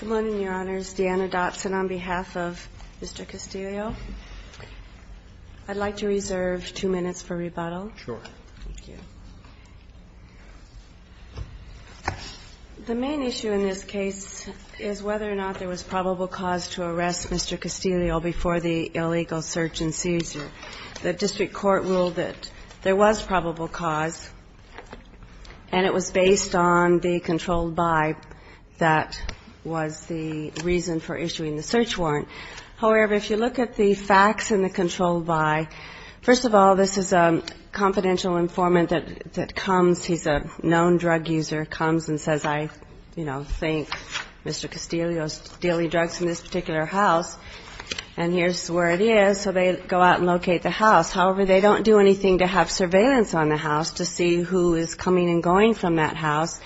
Good morning, Your Honors. Deanna Dotson on behalf of Mr. Castillo. I'd like to reserve two minutes for rebuttal. Sure. Thank you. The main issue in this case is whether or not there was probable cause to arrest Mr. Castillo before the illegal search and seizure. The district court ruled that there was probable cause, and it was based on the controlled by that was the reason for issuing the search warrant. However, if you look at the facts in the controlled by, first of all, this is a confidential informant that comes. He's a known drug user, comes and says, I, you know, think Mr. Castillo is dealing drugs in this particular house, and here's where it is. So they go out and locate the house. However, they don't do anything to have surveillance on the house to see who is coming and going from that house.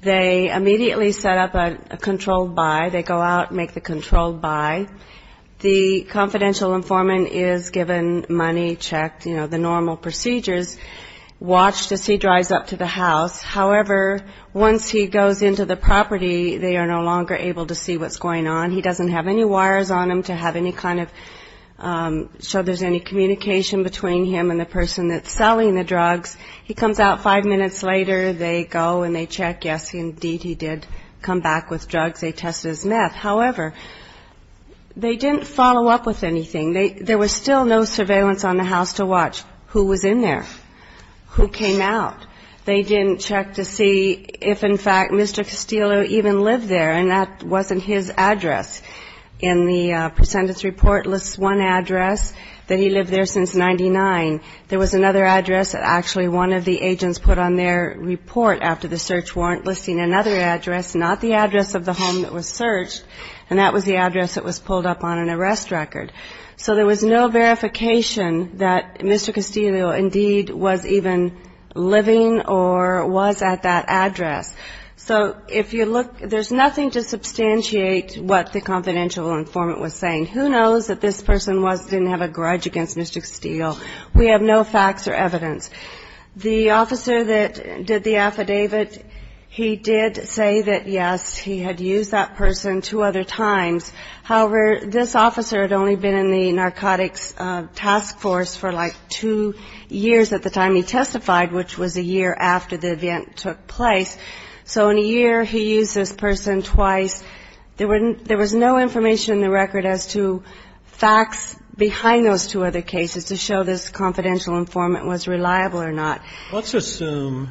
They immediately set up a controlled by. They go out and make the controlled by. The confidential informant is given money, checked, you know, the normal procedures, watched as he drives up to the house. However, once he goes into the property, they are no He doesn't have any wires on him to have any kind of, show there's any communication between him and the person that's selling the drugs. He comes out five minutes later. They go and they check. Yes, indeed, he did come back with drugs. They tested his meth. However, they didn't follow up with anything. There was still no surveillance on the house to watch who was in there, who came out. They didn't check to see if, in fact, Mr. Castillo even lived there, and that wasn't his address. In the presentence report lists one address that he lived there since 99. There was another address that actually one of the agents put on their report after the search warrant listing another address, not the address of the home that was searched, and that was the address that was pulled up on an arrest record. So there was no verification that Mr. Castillo indeed was even living or was at that address. So if you look, there's nothing to substantiate what the confidential informant was saying. Who knows that this person was, didn't have a grudge against Mr. Castillo. We have no facts or evidence. The officer that did the affidavit, he did say that, yes, he had used that person two other times. However, this officer had only been in the narcotics task force for like two years at the time he testified, which was a year after the event took place. So in a year, he used this person twice. There was no information in the record as to facts behind those two other cases to show this confidential informant was reliable or not. Let's assume,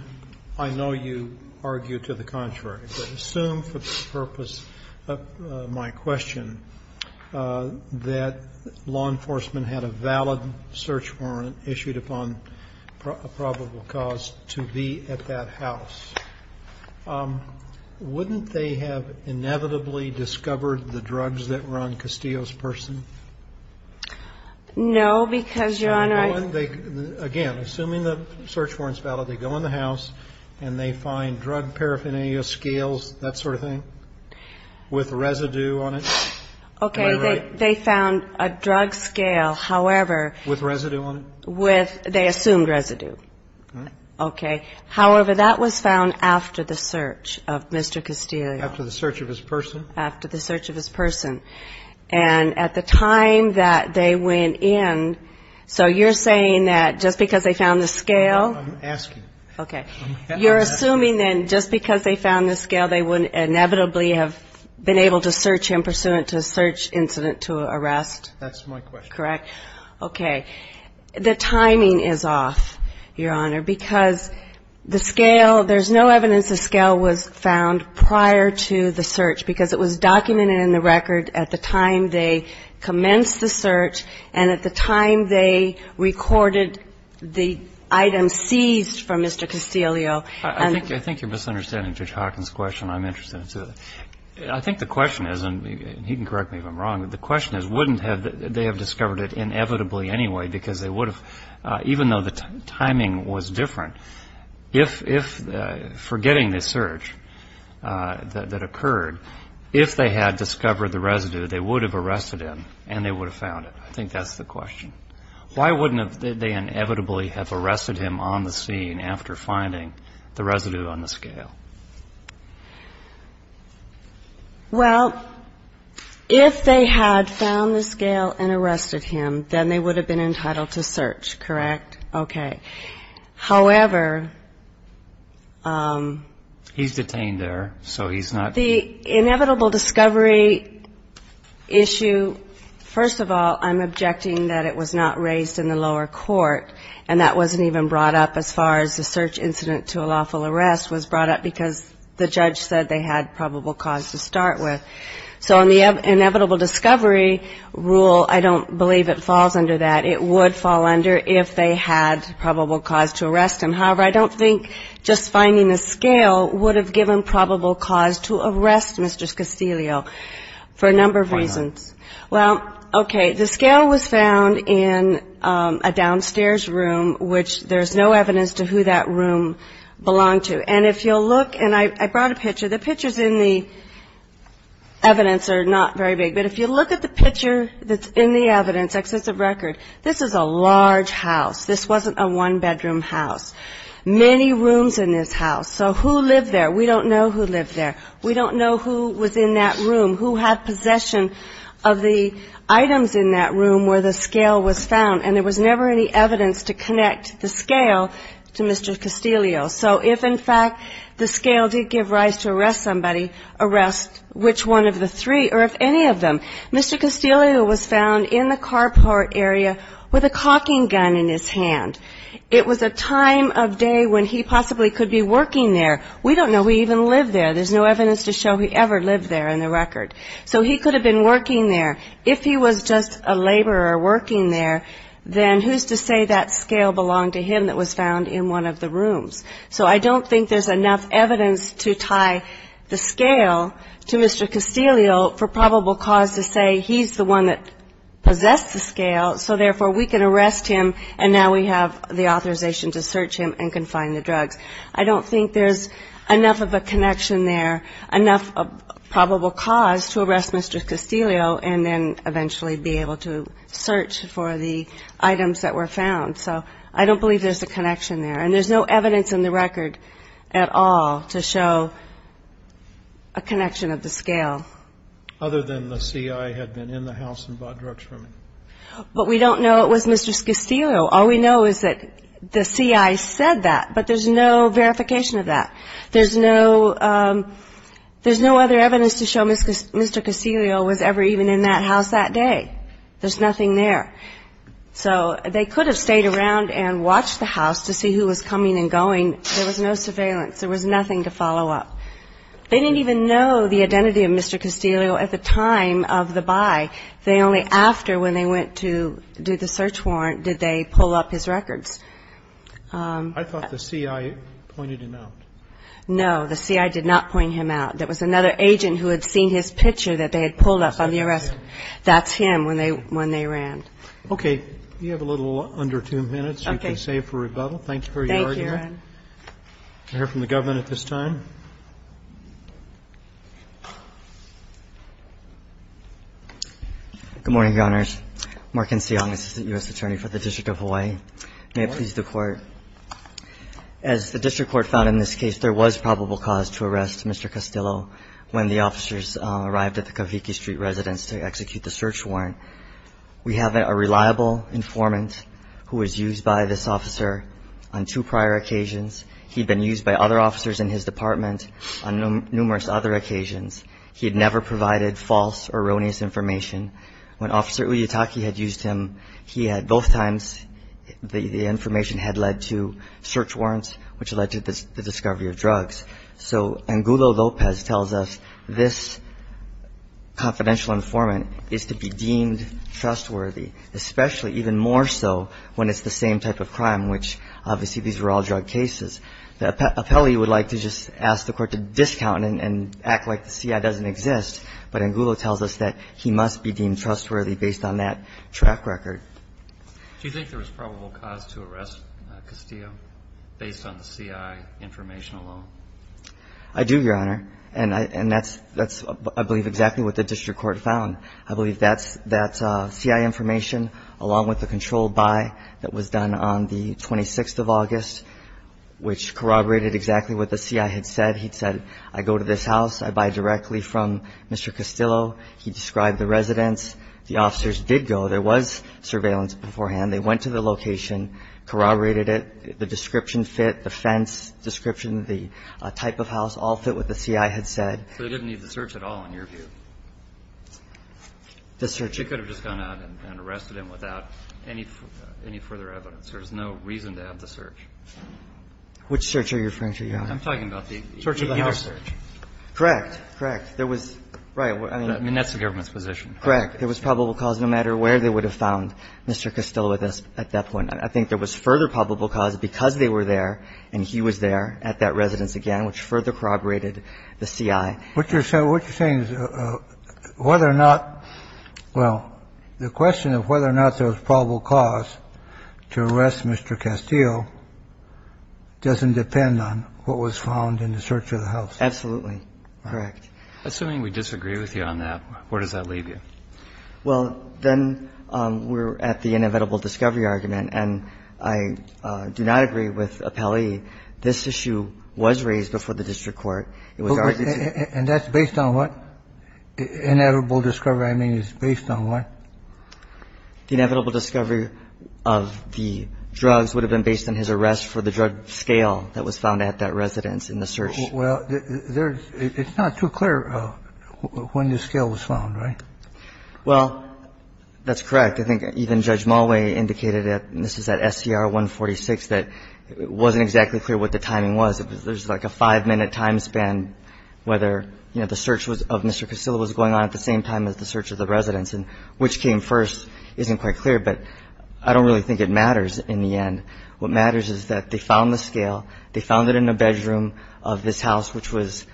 I know you argue to the contrary, but assume for the purpose of my question that law enforcement had a valid search warrant issued upon a probable cause to be at that house. Wouldn't they have inevitably discovered the drugs that were on Castillo's person? No, because, Your Honor, Again, assuming the search warrant is valid, they go in the house and they find drug paraphernalia scales, that sort of thing, with residue on it. Okay, they found a drug scale, however, With residue on it? With, they assumed residue. Okay. However, that was found after the search of Mr. Castillo. After the search of his person? After the search of his person. And at the time that they went in, so you're saying that just because they found the scale? I'm asking. Okay. You're assuming then just because they found the scale, they wouldn't inevitably have been able to search him pursuant to a search incident to arrest? That's my question. Correct. Okay. The timing is off, Your Honor, because the scale, there's no evidence the scale was found prior to the search because it was documented in the record at the time they commenced the search and at the time they recorded the item seized from Mr. Castillo. I think you're misunderstanding Judge Hawkins' question. I'm interested in it, too. I think the question is, and he can correct me if I'm wrong, but the question is wouldn't they have discovered it inevitably anyway because they would have, even though the timing was different, if, forgetting the search that occurred, if they had discovered the residue, they would have arrested him and they would have found it. I think that's the question. Why wouldn't they inevitably have arrested him on the scene after finding the residue on the scale? Well, if they had found the scale and arrested him, then they would have been entitled to search, correct? Okay. However... He's detained there, so he's not... The inevitable discovery issue, first of all, I'm objecting that it was not raised in the lower court and that wasn't even brought up as far as the search incident to a lawful arrest was brought up because the judge said they had probable cause to start with. So on the inevitable discovery rule, I don't believe it falls under that. It would fall under if they had probable cause to arrest him. However, I don't think just finding the scale would have given probable cause to arrest Mr. Castillo for a number of reasons. Well, okay, the scale was found in a downstairs room, which there's no evidence to who that belonged to. And if you'll look, and I brought a picture, the pictures in the evidence are not very big, but if you look at the picture that's in the evidence, excessive record, this is a large house. This wasn't a one-bedroom house. Many rooms in this house. So who lived there? We don't know who lived there. We don't know who was in that room, who had possession of the items in that room where the scale was found. And there was never any evidence to connect the scale to Mr. Castillo. So if, in fact, the scale did give rise to arrest somebody, arrest which one of the three or if any of them. Mr. Castillo was found in the carport area with a caulking gun in his hand. It was a time of day when he possibly could be working there. We don't know who even lived there. There's no evidence to show who ever lived there in the record. So he could have been working there. If he was just a laborer working there, then who's to say that scale belonged to him that was found in one of the rooms. So I don't think there's enough evidence to tie the scale to Mr. Castillo for probable cause to say he's the one that possessed the scale, so therefore we can arrest him and now we have the authorization to search him and confine the drugs. I don't think there's enough of a connection there, enough probable cause to arrest Mr. Castillo and then eventually be able to search for the items that were found. So I don't believe there's a connection there. And there's no evidence in the record at all to show a connection of the scale. Other than the C.I. had been in the house and bought drugs from him. But we don't know it was Mr. Castillo. All we know is that the C.I. said that, but there's no verification of that. There's no other evidence to show Mr. Castillo was ever even in that house that day. There's nothing there. So they could have stayed around and watched the house to see who was coming and going. There was no surveillance. There was nothing to follow up. They didn't even know the identity of Mr. Castillo at the time of the buy. They only after, when they went to do the search warrant, did they pull up his records. I thought the C.I. pointed him out. No, the C.I. did not point him out. There was another agent who had seen his picture that they had pulled up on the arrest. That's him when they ran. Okay. You have a little under two minutes. You can save for rebuttal. Thank you for Thank you, Your Honor. Can I hear from the government at this time? Good morning, Your Honors. Markin Tsiong, assistant U.S. attorney for the District of Hawaii. May it please the Court. As the District Court found in this case, there was no evidence that Mr. Castillo was involved in the search warrant. We have a reliable informant who was used by this officer on two prior occasions. He had been used by other officers in his department on numerous other occasions. He had never provided false or erroneous information. When Officer Uyatake had used him, he had both times, the information had led to search warrants, which led to the discovery of drugs. So Angulo Lopez tells us this confidential informant is to be deemed trustworthy, especially, even more so, when it's the same type of crime, which obviously these were all drug cases. The appellee would like to just ask the Court to discount and act like the CI doesn't exist, but Angulo tells us that he must be deemed trustworthy based on that track record. Do you think there was probable cause to arrest Castillo based on the CI information alone? I do, Your Honor. And that's, I believe, exactly what the District Court found. I believe that CI information, along with the controlled buy that was done on the 26th of August, which corroborated exactly what the CI had said. He said, I go to this house, I buy directly from Mr. Castillo. He described the residence. The officers did go. There was surveillance beforehand. They went to the location, corroborated it. The description fit, the fence description, the type of house, all fit what the CI had said. So they didn't need the search at all, in your view? The search. They could have just gone out and arrested him without any further evidence. There's no reason to have the search. Which search are you referring to, Your Honor? I'm talking about the search of the house. Correct. Correct. There was right. I mean, that's the government's position. Correct. There was probable cause no matter where they would have found Mr. Castillo with us at that point. I think there was further probable cause because they were there and he was there at that residence again, which further corroborated the CI. What you're saying is whether or not – well, the question of whether or not there was probable cause to arrest Mr. Castillo doesn't depend on what was found in the search of the house. Absolutely. Correct. Assuming we disagree with you on that, where does that leave you? Well, then we're at the inevitable discovery argument, and I do not agree with Appellee. This issue was raised before the district court. It was argued to – And that's based on what? Inevitable discovery, I mean, is based on what? The inevitable discovery of the drugs would have been based on his arrest for the drug scale that was found at that residence in the search. Well, there's – it's not too clear when the scale was found, right? Well, that's correct. I think even Judge Mulway indicated at – and this is at SCR 146 – that it wasn't exactly clear what the timing was. It was – there's like a five-minute time span whether, you know, the search was – of Mr. Castillo was going on at the same time as the search of the residence, and which came first isn't quite clear. But I don't really think it matters in the end. What matters is that they found the scale. They found it in the bedroom of this house, which was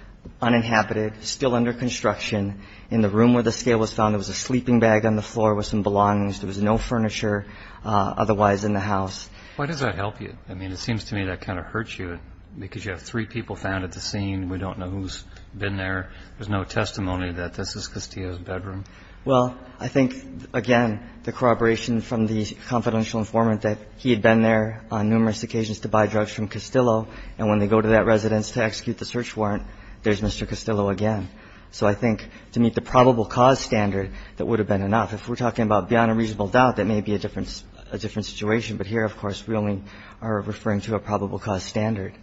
uninhabited, still under construction. In the room where the scale was found, there was a sleeping bag on the floor with some belongings. There was no furniture otherwise in the house. Why does that help you? I mean, it seems to me that kind of hurts you because you have three people found at the scene. We don't know who's been there. There's no testimony that this is Castillo's bedroom. Well, I think, again, the corroboration from the confidential informant that he had been there on numerous occasions to buy drugs from Castillo, and when they go to that residence to execute the search warrant, there's Mr. Castillo again. So I think to meet the probable cause standard, that would have been enough. If we're talking about beyond a reasonable doubt, that may be a different – a different situation. But here, of course, we only are referring to a probable cause standard.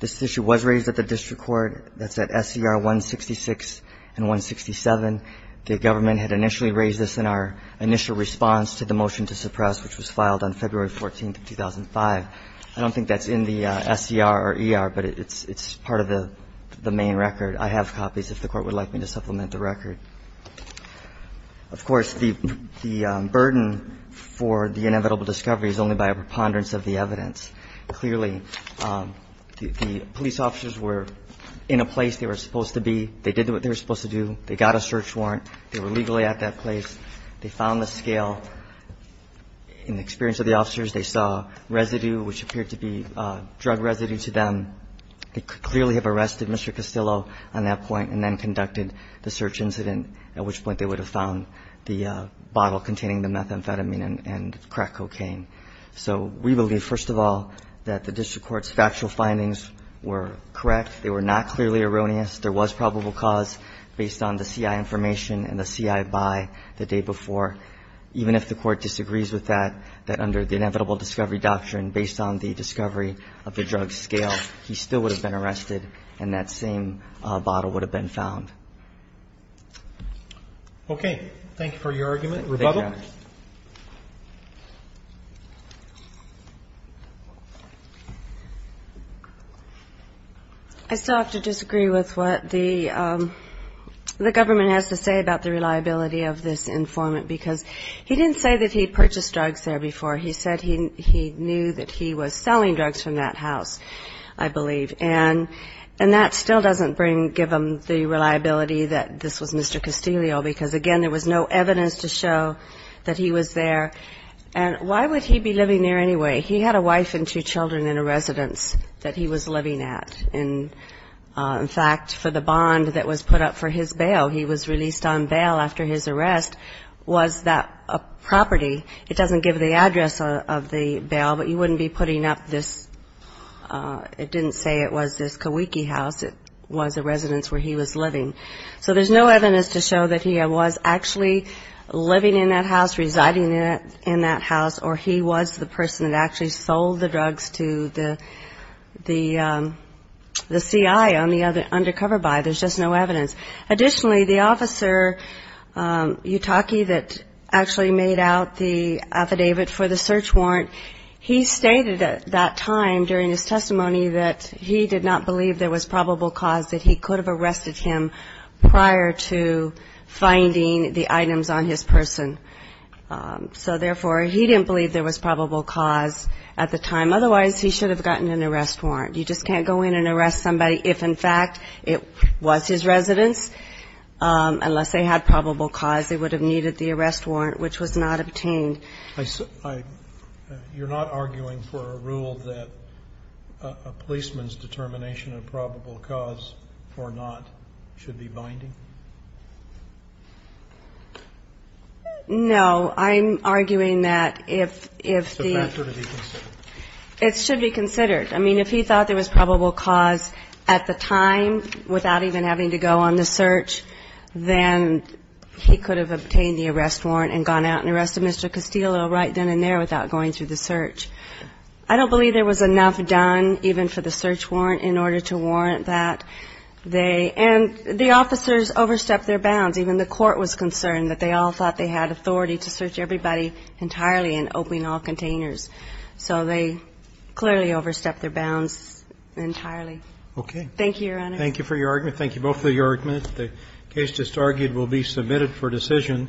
This issue was raised at the district court. That's at SCR 166 and 167. The government had initially raised this in our initial response to the motion to suppress, which was filed on February 14, 2005. I don't think that's in the SCR or ER, but it's part of the main record. I have copies, if the Court would like me to supplement the record. Of course, the burden for the inevitable discovery is only by a preponderance of the evidence. Clearly, the police officers were in a place they were supposed to be. They did what they were supposed to do. They got a search warrant. They were legally at that place. They found the scale. In the experience of the officers, they saw residue, which appeared to be drug residue to them. They could clearly have arrested Mr. Castillo on that point and then conducted the search incident, at which point they would have found the bottle containing the methamphetamine and crack cocaine. So we believe, first of all, that the district court's factual findings were correct. They were not clearly erroneous. There was probable cause based on the CI information and the CI by the day before. Even if the Court disagrees with that, that under the inevitable discovery doctrine, based on the discovery of the drug scale, he still would have been arrested and that same bottle would have been found. Roberts. Thank you for your argument. Rebuttal. I still have to disagree with what the government has to say about the reliability of this informant, because he didn't say that he purchased drugs there before. He said he knew that he was selling drugs from that house, I believe. And that still doesn't give him the reliability that this was Mr. Castillo, because, again, there was no evidence to show that he was there. And why would he be living there anyway? He had a wife and two children in a residence that he was living at. In fact, for the bond that was put up for his bail, he was released on bail after his arrest, was that a property. It doesn't give the address of the bail, but you wouldn't be putting up this, it didn't say it was this Kawiki house. It was a residence where he was living. So there's no evidence to show that he was actually living in that house, residing in that house, or he was the person that actually sold the drugs to the CI on the undercover buy. There's just no evidence. Additionally, the officer, Yutaki, that actually made out the affidavit for the search warrant, he stated at that time during his testimony that he did not believe there was probable cause that he could have arrested him prior to finding the items on his person. So therefore, he didn't believe there was probable cause at the time. Otherwise, he should have gotten an arrest warrant. You just can't go in and arrest somebody if, in fact, it was his residence, unless they had probable cause, they would have needed the arrest warrant, which was not obtained. You're not arguing for a rule that a policeman's determination of probable cause or not should be binding? No, I'm arguing that if the- It's a factor to be considered. It should be considered. I mean, if he thought there was probable cause at the time without even having to go on the search, then he could have obtained the arrest warrant and gone out and arrested Mr. Castillo right then and there without going through the search. I don't believe there was enough done, even for the search warrant, in order to warrant that they, and the officers overstepped their bounds. Even the court was concerned that they all thought they had authority to search everybody entirely and open all containers. So they clearly overstepped their bounds entirely. Okay. Thank you, Your Honor. Thank you for your argument. Thank you both for your argument. The case just argued will be submitted for decision.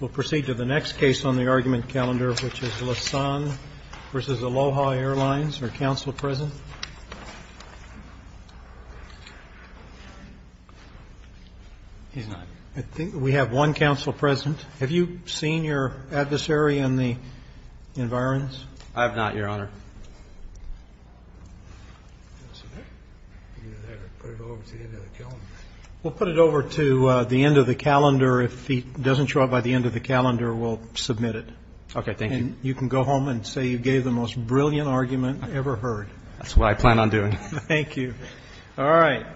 We'll proceed to the next case on the argument calendar, which is Lasson v. Aloha Airlines. Are counsel present? He's not. I think we have one counsel present. Have you seen your adversary in the environs? I have not, Your Honor. We'll put it over to the end of the calendar. If he doesn't show up by the end of the calendar, we'll submit it. Okay. Thank you. And you can go home and say you gave the most brilliant argument I ever heard. That's what I plan on doing. Thank you. All right. Thank you, Your Honor.